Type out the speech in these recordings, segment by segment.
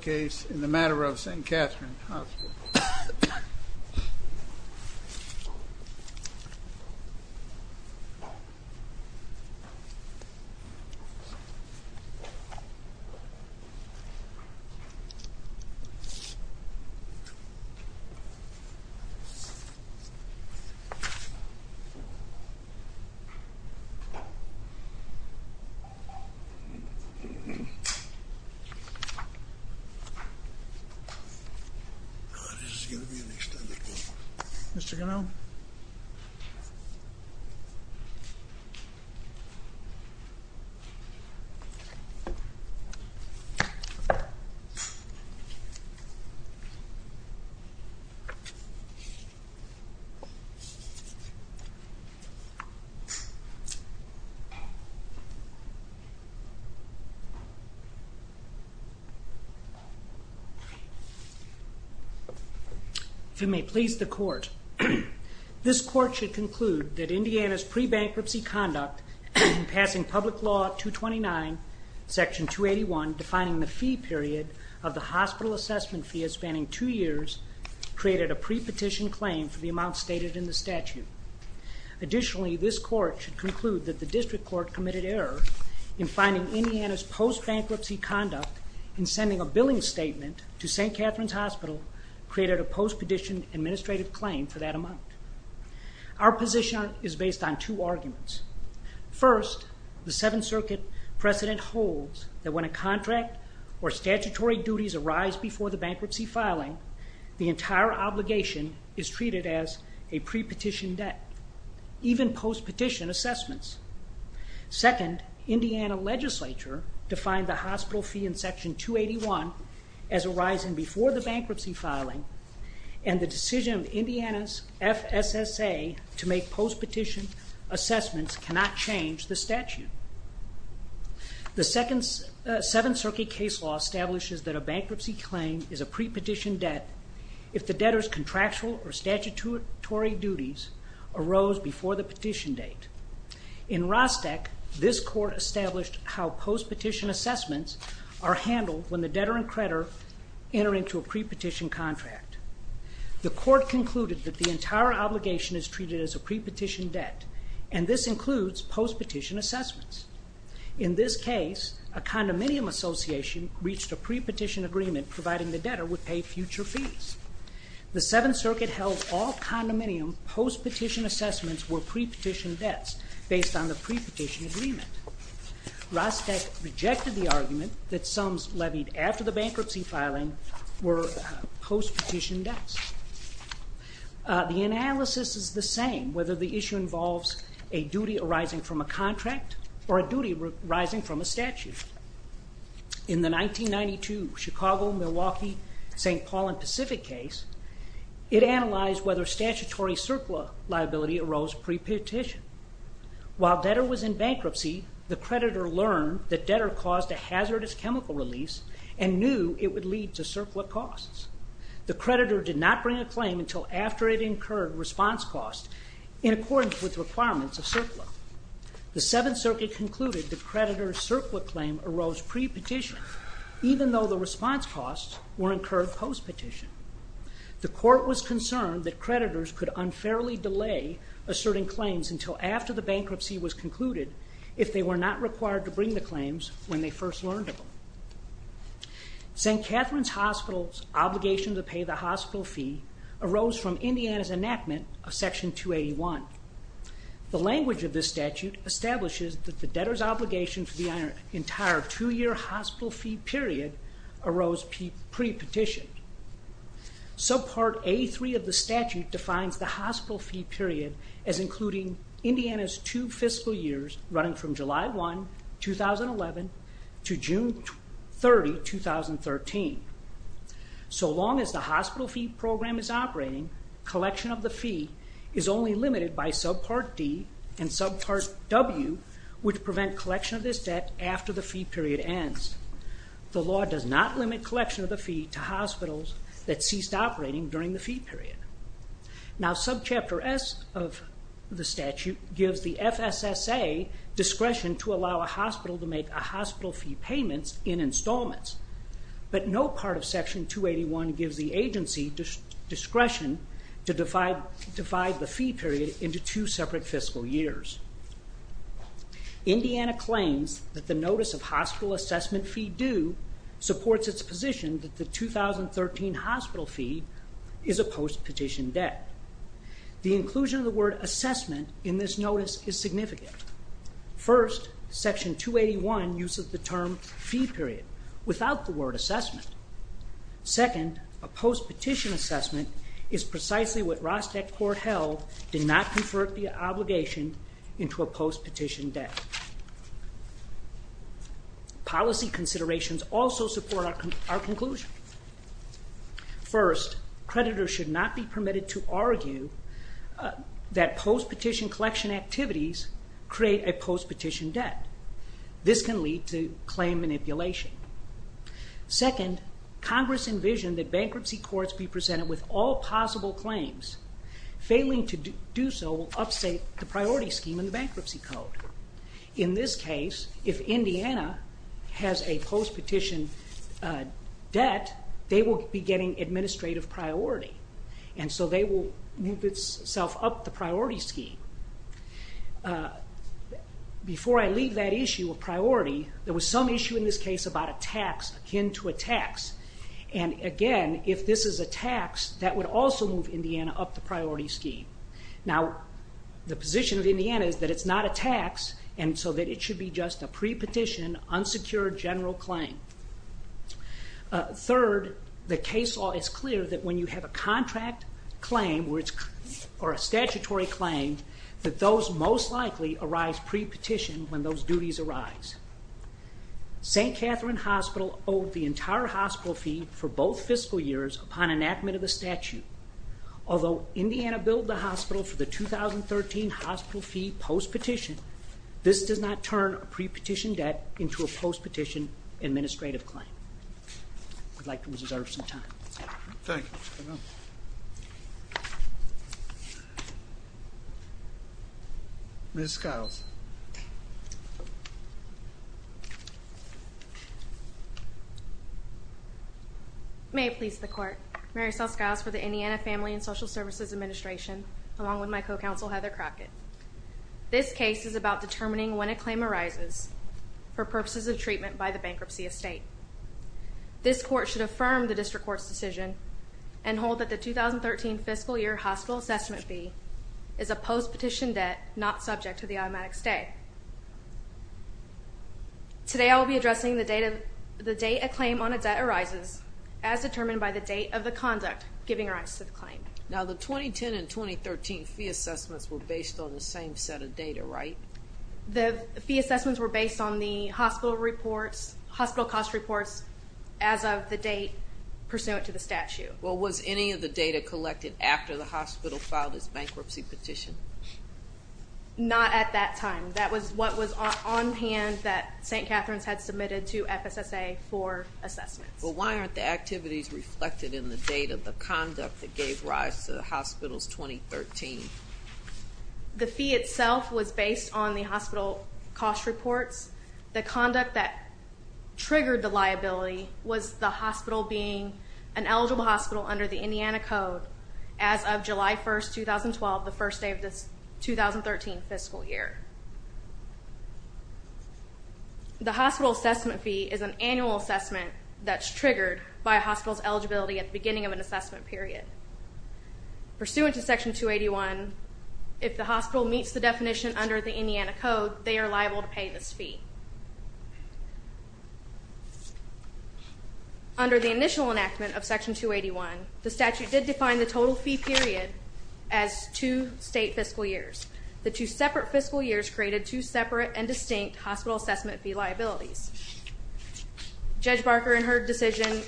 Case in the matter of St. Catherine Hospital. God, this is going to be an extended clip. If it may please the Court, this Court should conclude that Indiana's pre-bankruptcy conduct in passing Public Law 229, Section 281, defining the fee period of the hospital assessment fee of spanning two years, created a pre-petition claim for the amount stated in the statute. Additionally, this Court should conclude that the District Court committed error in finding Indiana's post-bankruptcy conduct in sending a billing statement to St. Catherine's Hospital created a post-petition administrative claim for that amount. Our position is based on two arguments. First, the Seventh Circuit precedent holds that when a contract or statutory duties arise before the bankruptcy filing, the entire obligation is treated as a pre-petition debt, even post-petition assessments. Second, Indiana legislature defined the hospital fee in Section 281 as arising before the bankruptcy filing, and the decision of Indiana's FSSA to make post-petition assessments cannot change the statute. The Seventh Circuit case law establishes that a bankruptcy claim is a pre-petition debt if the debtor's contractual or statutory duties arose before the petition date. In Rostec, this Court established how post-petition assessments are handled when the debtor and creditor enter into a pre-petition contract. The Court concluded that the entire obligation is treated as a pre-petition debt, and this includes post-petition assessments. In this case, a condominium association reached a pre-petition agreement providing the debtor would pay future fees. The Seventh Circuit held all condominium post-petition assessments were pre-petition debts based on the pre-petition agreement. Rostec rejected the argument that sums levied after the bankruptcy filing were post-petition debts. The analysis is the same whether the issue involves a duty arising from a contract or a duty arising from a statute. In the 1992 Chicago, Milwaukee, St. Paul, and Pacific case, it analyzed whether statutory CERCLA liability arose pre-petition. While debtor was in bankruptcy, the creditor learned that debtor caused a hazardous chemical release and knew it would lead to CERCLA costs. The creditor did not bring a claim until after it incurred response costs in accordance with requirements of CERCLA. The Seventh Circuit concluded the creditor's CERCLA claim arose pre-petition, even though the response costs were incurred post-petition. The Court was concerned that creditors could unfairly delay asserting claims until after the bankruptcy was concluded if they were not required to bring the claims when they first learned of them. St. Catherine's Hospital's obligation to pay the hospital fee arose from Indiana's enactment of Section 281. The language of this statute establishes that the debtor's obligation for the entire two-year hospital fee period arose pre-petition. Subpart A3 of the statute defines the hospital fee period as including Indiana's two fiscal years running from July 1, 2011, to June 30, 2013. So long as the hospital fee program is operating, collection of the fee is only limited by Subpart D and Subpart W, which prevent collection of this debt after the fee period ends. The law does not limit collection of the fee to hospitals that ceased operating during the fee period. Now, Subchapter S of the statute gives the FSSA discretion to allow a hospital to make a hospital fee payment in installments, but no part of Section 281 gives the agency discretion to divide the fee period into two separate fiscal years. Indiana claims that the notice of hospital assessment fee due supports its position that the 2013 hospital fee is a post-petition debt. The inclusion of the word assessment in this notice is significant. First, Section 281 uses the term fee period without the word assessment. Second, a post-petition assessment is precisely what Rostec Court held did not convert the obligation into a post-petition debt. Policy considerations also support our conclusion. First, creditors should not be permitted to argue that post-petition collection activities create a post-petition debt. This can lead to claim manipulation. Second, Congress envisioned that bankruptcy courts be presented with all possible claims. Failing to do so will upstate the priority scheme in the Bankruptcy Code. In this case, if Indiana has a post-petition debt, they will be getting administrative priority, and so they will move itself up the priority scheme. Before I leave that issue of priority, there was some issue in this case about a tax akin to a tax, and again, if this is a tax, that would also move Indiana up the priority scheme. Now, the position of Indiana is that it's not a tax, and so that it should be just a pre-petition, unsecured general claim. Third, the case law is clear that when you have a contract claim or a statutory claim, that those most likely arise pre-petition when those duties arise. St. Catherine Hospital owed the entire hospital fee for both fiscal years upon enactment of the statute. Although Indiana billed the hospital for the 2013 hospital fee post-petition, this does not turn a pre-petition debt into a post-petition administrative claim. I'd like to reserve some time. Thank you. Ms. Skiles. May it please the Court. Marysel Skiles for the Indiana Family and Social Services Administration, along with my co-counsel, Heather Crockett. This case is about determining when a claim arises for purposes of treatment by the bankruptcy estate. This Court should affirm the District Court's decision and hold that the 2013 fiscal year hospital assessment fee is a post-petition debt not subject to the automatic stay. Today, I will be addressing the date a claim on a debt arises, as determined by the date of the conduct giving rise to the claim. Now, the 2010 and 2013 fee assessments were based on the same set of data, right? The fee assessments were based on the hospital reports, hospital cost reports, as of the date pursuant to the statute. Well, was any of the data collected after the hospital filed its bankruptcy petition? Not at that time. That was what was on hand that St. Catherine's had submitted to FSSA for assessment. Well, why aren't the activities reflected in the data of the conduct that gave rise to the hospital's 2013? The fee itself was based on the hospital cost reports. The conduct that triggered the liability was the hospital being an eligible hospital under the Indiana Code as of July 1, 2012, the first day of this 2013 fiscal year. The hospital assessment fee is an annual assessment that's triggered by a hospital's eligibility at the beginning of an assessment period. Pursuant to Section 281, if the hospital meets the definition under the Indiana Code, they are liable to pay this fee. Under the initial enactment of Section 281, the statute did define the total fee period as two state fiscal years. The two separate fiscal years created two separate and distinct hospital assessment fee liabilities. Judge Barker in her decision,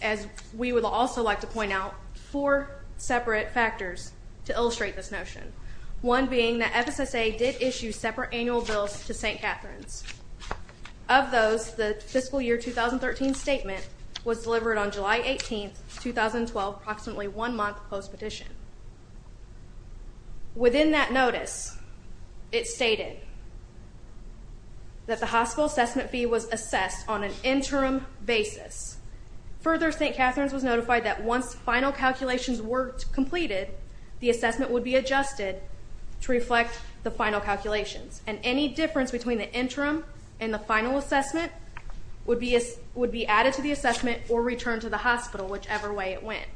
as we would also like to point out, four separate factors to illustrate this notion, one being that FSSA did issue separate annual bills to St. Catherine's. Of those, the fiscal year 2013 statement was delivered on July 18, 2012, approximately one month post-petition. Within that notice, it stated that the hospital assessment fee was assessed on an interim basis. Further, St. Catherine's was notified that once final calculations were completed, the assessment would be adjusted to reflect the final calculations and any difference between the interim and the final assessment would be added to the assessment or returned to the hospital, whichever way it went.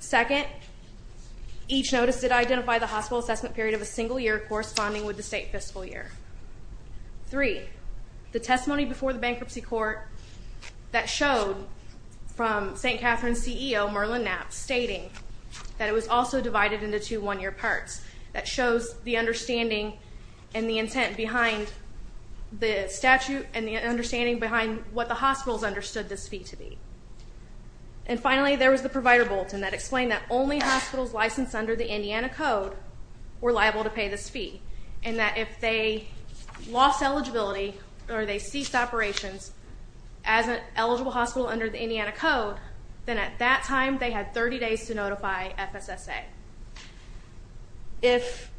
Second, each notice did identify the hospital assessment period of a single year corresponding with the state fiscal year. Three, the testimony before the bankruptcy court that showed from St. Catherine's CEO, Merlin Knapp, stating that it was also divided into two one-year parts, that shows the understanding and the intent behind the statute and the understanding behind what the hospitals understood this fee to be. And finally, there was the provider bulletin that explained that only hospitals licensed under the Indiana Code were liable to pay this fee and that if they lost eligibility or they ceased operations as an eligible hospital under the Indiana Code, then at that time they had 30 days to notify FSSA. If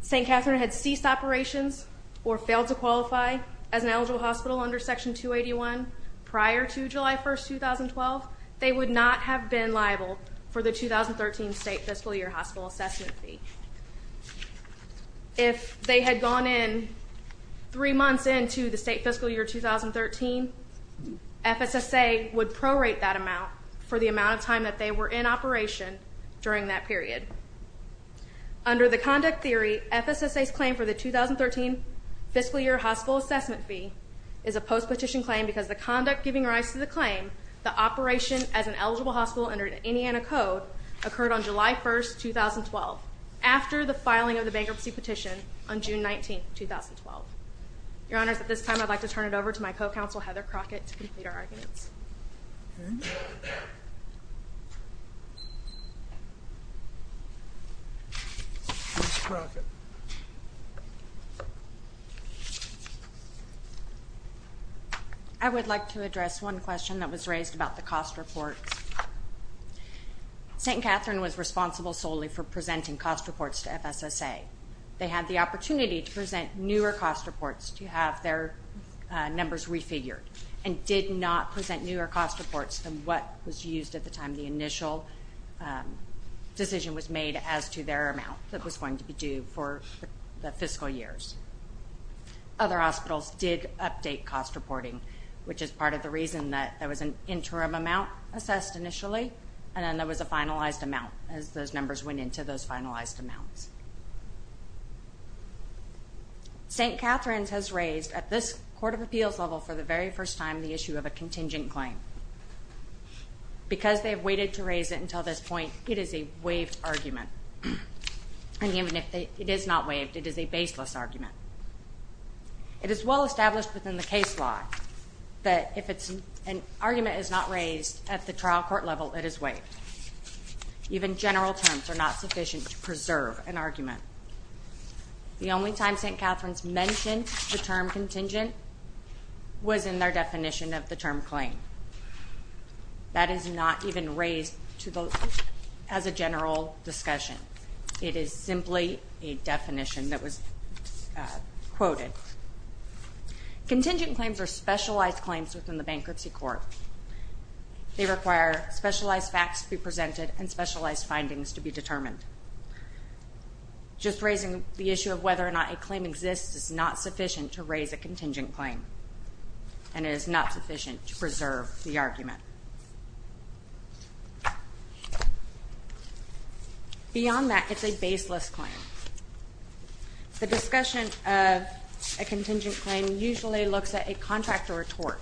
St. Catherine had ceased operations or failed to qualify as an eligible hospital under Section 281 prior to July 1, 2012, they would not have been liable for the 2013 state fiscal year hospital assessment fee. If they had gone in three months into the state fiscal year 2013, FSSA would prorate that amount for the amount of time that they were in operation during that period. Under the conduct theory, FSSA's claim for the 2013 fiscal year hospital assessment fee is a post-petition claim because the conduct giving rise to the claim that operation as an eligible hospital under the Indiana Code occurred on July 1, 2012, after the filing of the bankruptcy petition on June 19, 2012. Your Honors, at this time I'd like to turn it over to my co-counsel, Heather Crockett, to complete our arguments. Ms. Crockett. I would like to address one question that was raised about the cost reports. St. Catherine was responsible solely for presenting cost reports to FSSA. They had the opportunity to present newer cost reports to have their numbers refigured and did not present newer cost reports than what was used at the time the initial decision was made as to their amount that was going to be due for the fiscal years. Other hospitals did update cost reporting, which is part of the reason that there was an interim amount assessed initially and then there was a finalized amount as those numbers went into those finalized amounts. St. Catherine's has raised at this Court of Appeals level for the very first time the issue of a contingent claim. Because they've waited to raise it until this point, it is a waived argument. And even if it is not waived, it is a baseless argument. It is well established within the case law that if an argument is not raised at the trial court level, it is waived. Even general terms are not sufficient to preserve an argument. The only time St. Catherine's mentioned the term contingent was in their definition of the term claim. That is not even raised as a general discussion. It is simply a definition that was quoted. Contingent claims are specialized claims within the bankruptcy court. They require specialized facts to be presented and specialized findings to be determined. Just raising the issue of whether or not a claim exists is not sufficient to raise a contingent claim. And it is not sufficient to preserve the argument. Beyond that, it's a baseless claim. The discussion of a contingent claim usually looks at a contract or a tort.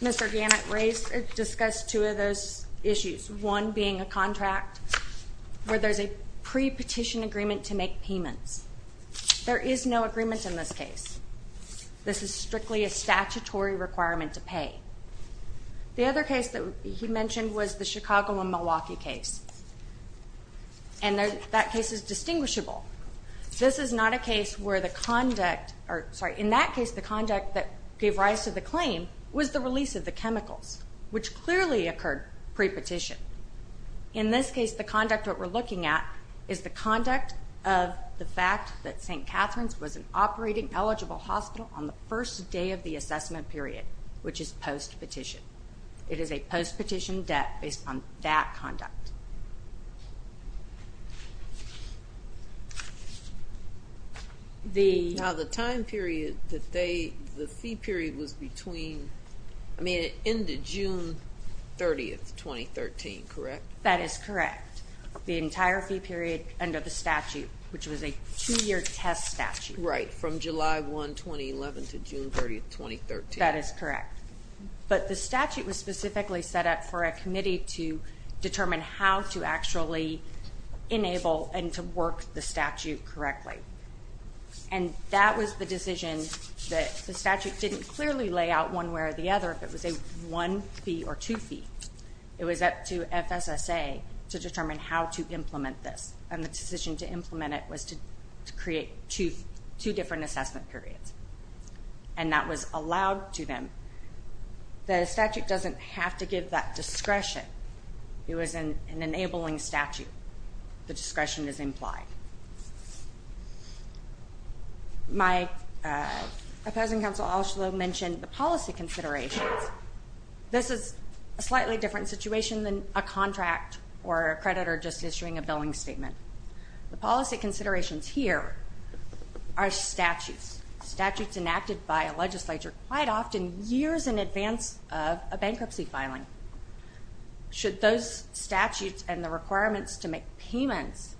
Mr. Gannett discussed two of those issues. One being a contract where there's a pre-petition agreement to make payments. There is no agreement in this case. This is strictly a statutory requirement to pay. The other case that he mentioned was the Chicago and Milwaukee case. And that case is distinguishable. In that case, the conduct that gave rise to the claim was the release of the chemicals, which clearly occurred pre-petition. In this case, the conduct that we're looking at is the conduct of the fact that St. Catherine's was an operating eligible hospital on the first day of the assessment period, which is post-petition. It is a post-petition debt based on that conduct. Now, the time period that they, the fee period was between, I mean, it ended June 30, 2013, correct? That is correct. The entire fee period under the statute, which was a two-year test statute. Right, from July 1, 2011 to June 30, 2013. That is correct. But the statute was specifically set up for a committee to determine how to actually enable and to work the statute correctly. And that was the decision that the statute didn't clearly lay out one way or the other if it was a one fee or two fee. It was up to FSSA to determine how to implement this. And the decision to implement it was to create two different assessment periods. And that was allowed to them. The statute doesn't have to give that discretion. It was an enabling statute. The discretion is implied. My opposing counsel also mentioned the policy considerations. This is a slightly different situation than a contract or a creditor just issuing a billing statement. The policy considerations here are statutes. Statutes enacted by a legislature quite often years in advance of a bankruptcy filing. Should those statutes and the requirements to make payments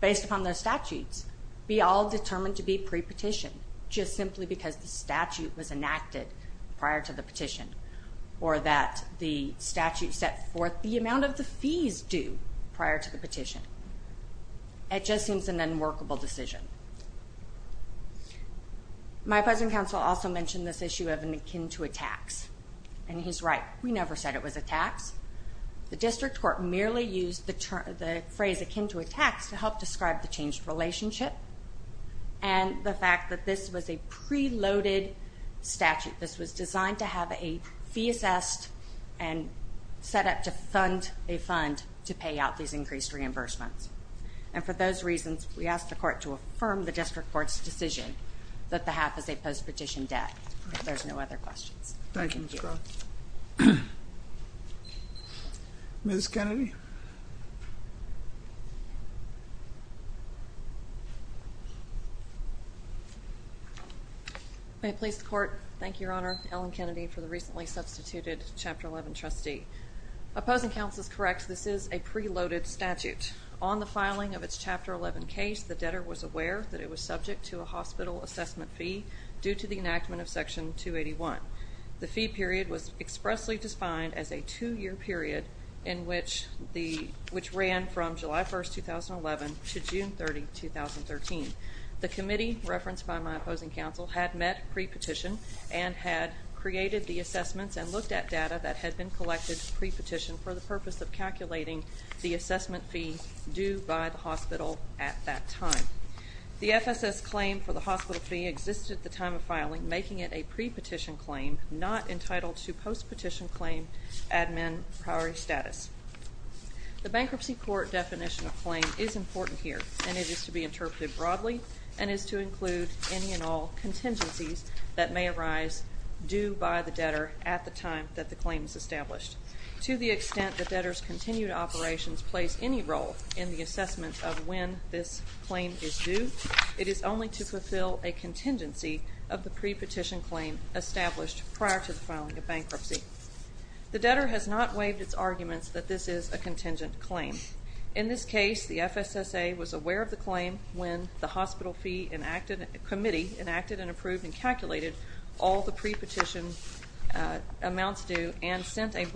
based upon those statutes be all determined to be pre-petitioned, just simply because the statute was enacted prior to the petition, or that the statute set forth the amount of the fees due prior to the petition? It just seems an unworkable decision. My opposing counsel also mentioned this issue of an akin to a tax. And he's right. We never said it was a tax. The district court merely used the phrase akin to a tax to help describe the changed relationship. And the fact that this was a pre-loaded statute. This was designed to have a fee assessed and set up to fund a fund to pay out these increased reimbursements. And for those reasons, we ask the court to affirm the district court's decision that the half is a post-petition debt. If there's no other questions. Thank you. Ms. Kennedy. May it please the court. Thank you, Your Honor. Ellen Kennedy for the recently substituted Chapter 11 trustee. Opposing counsel is correct. This is a pre-loaded statute. On the filing of its Chapter 11 case, the debtor was aware that it was subject to a hospital assessment fee due to the enactment of Section 281. The fee period was expressly defined as a two-year period in which ran from July 1, 2011 to June 30, 2013. The committee referenced by my opposing counsel had met pre-petition and had created the assessments and looked at data that had been collected pre-petition for the purpose of calculating the assessment fee due by the hospital at that time. The FSS claim for the hospital fee existed at the time of filing, making it a pre-petition claim not entitled to post-petition claim admin priority status. The bankruptcy court definition of claim is important here, and it is to be interpreted broadly and is to include any and all contingencies that may arise due by the debtor at the time that the claim is established. To the extent the debtor's continued operations place any role in the assessment of when this claim is due, it is only to fulfill a contingency of the pre-petition claim established prior to the filing of bankruptcy. The debtor has not waived its arguments that this is a contingent claim. In this case, the FSSA was aware of the claim when the hospital fee committee enacted and approved and calculated all the pre-petition amounts due and sent a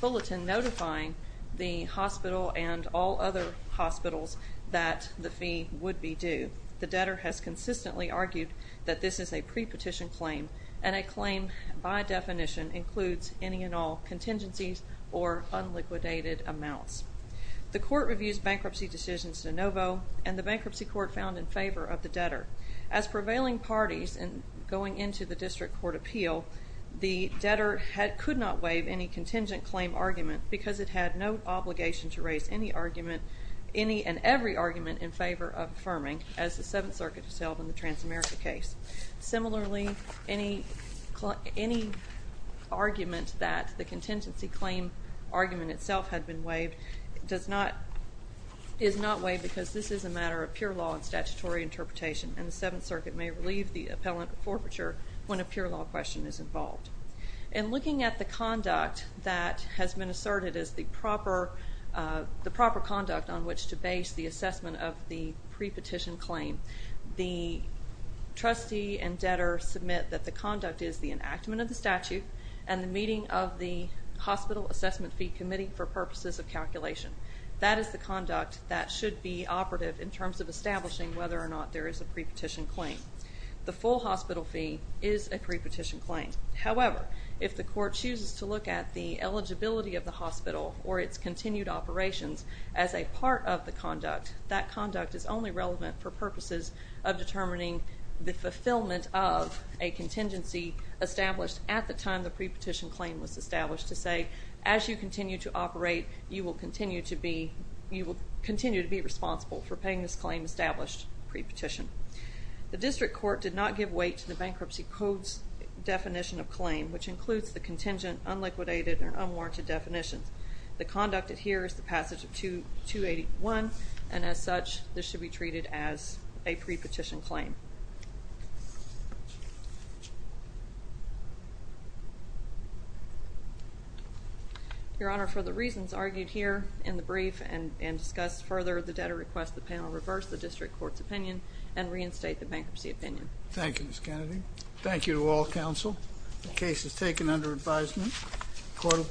bulletin notifying the hospital and all other hospitals that the fee would be due. The debtor has consistently argued that this is a pre-petition claim, and a claim by definition includes any and all contingencies or unliquidated amounts. The court reviews bankruptcy decisions de novo, and the bankruptcy court found in favor of the debtor. As prevailing parties going into the district court appeal, the debtor could not waive any contingent claim argument because it had no obligation to raise any argument, any and every argument in favor of affirming, as the Seventh Circuit has held in the Transamerica case. Similarly, any argument that the contingency claim argument itself had been waived is not waived because this is a matter of pure law and statutory interpretation, and the Seventh Circuit may relieve the appellant of forfeiture when a pure law question is involved. In looking at the conduct that has been asserted as the proper conduct on which to base the assessment of the pre-petition claim, the trustee and debtor submit that the conduct is the enactment of the statute and the meeting of the hospital assessment fee committee for purposes of calculation. That is the conduct that should be operative in terms of establishing whether or not there is a pre-petition claim. The full hospital fee is a pre-petition claim. However, if the court chooses to look at the eligibility of the hospital or its continued operations as a part of the conduct, that conduct is only relevant for purposes of determining the fulfillment of a contingency established at the time the pre-petition claim was established to say, as you continue to operate, you will continue to be responsible for paying this claim established pre-petition. The district court did not give weight to the Bankruptcy Code's definition of claim, which includes the contingent, unliquidated, and unwarranted definitions. The conduct here is the passage of 281, and as such, this should be treated as a pre-petition claim. Your Honor, for the reasons argued here in the brief and discussed further, the debtor requests the panel reverse the district court's opinion and reinstate the bankruptcy opinion. Thank you, Ms. Kennedy. Thank you to all counsel. The case is taken under advisement. Court is adjourned.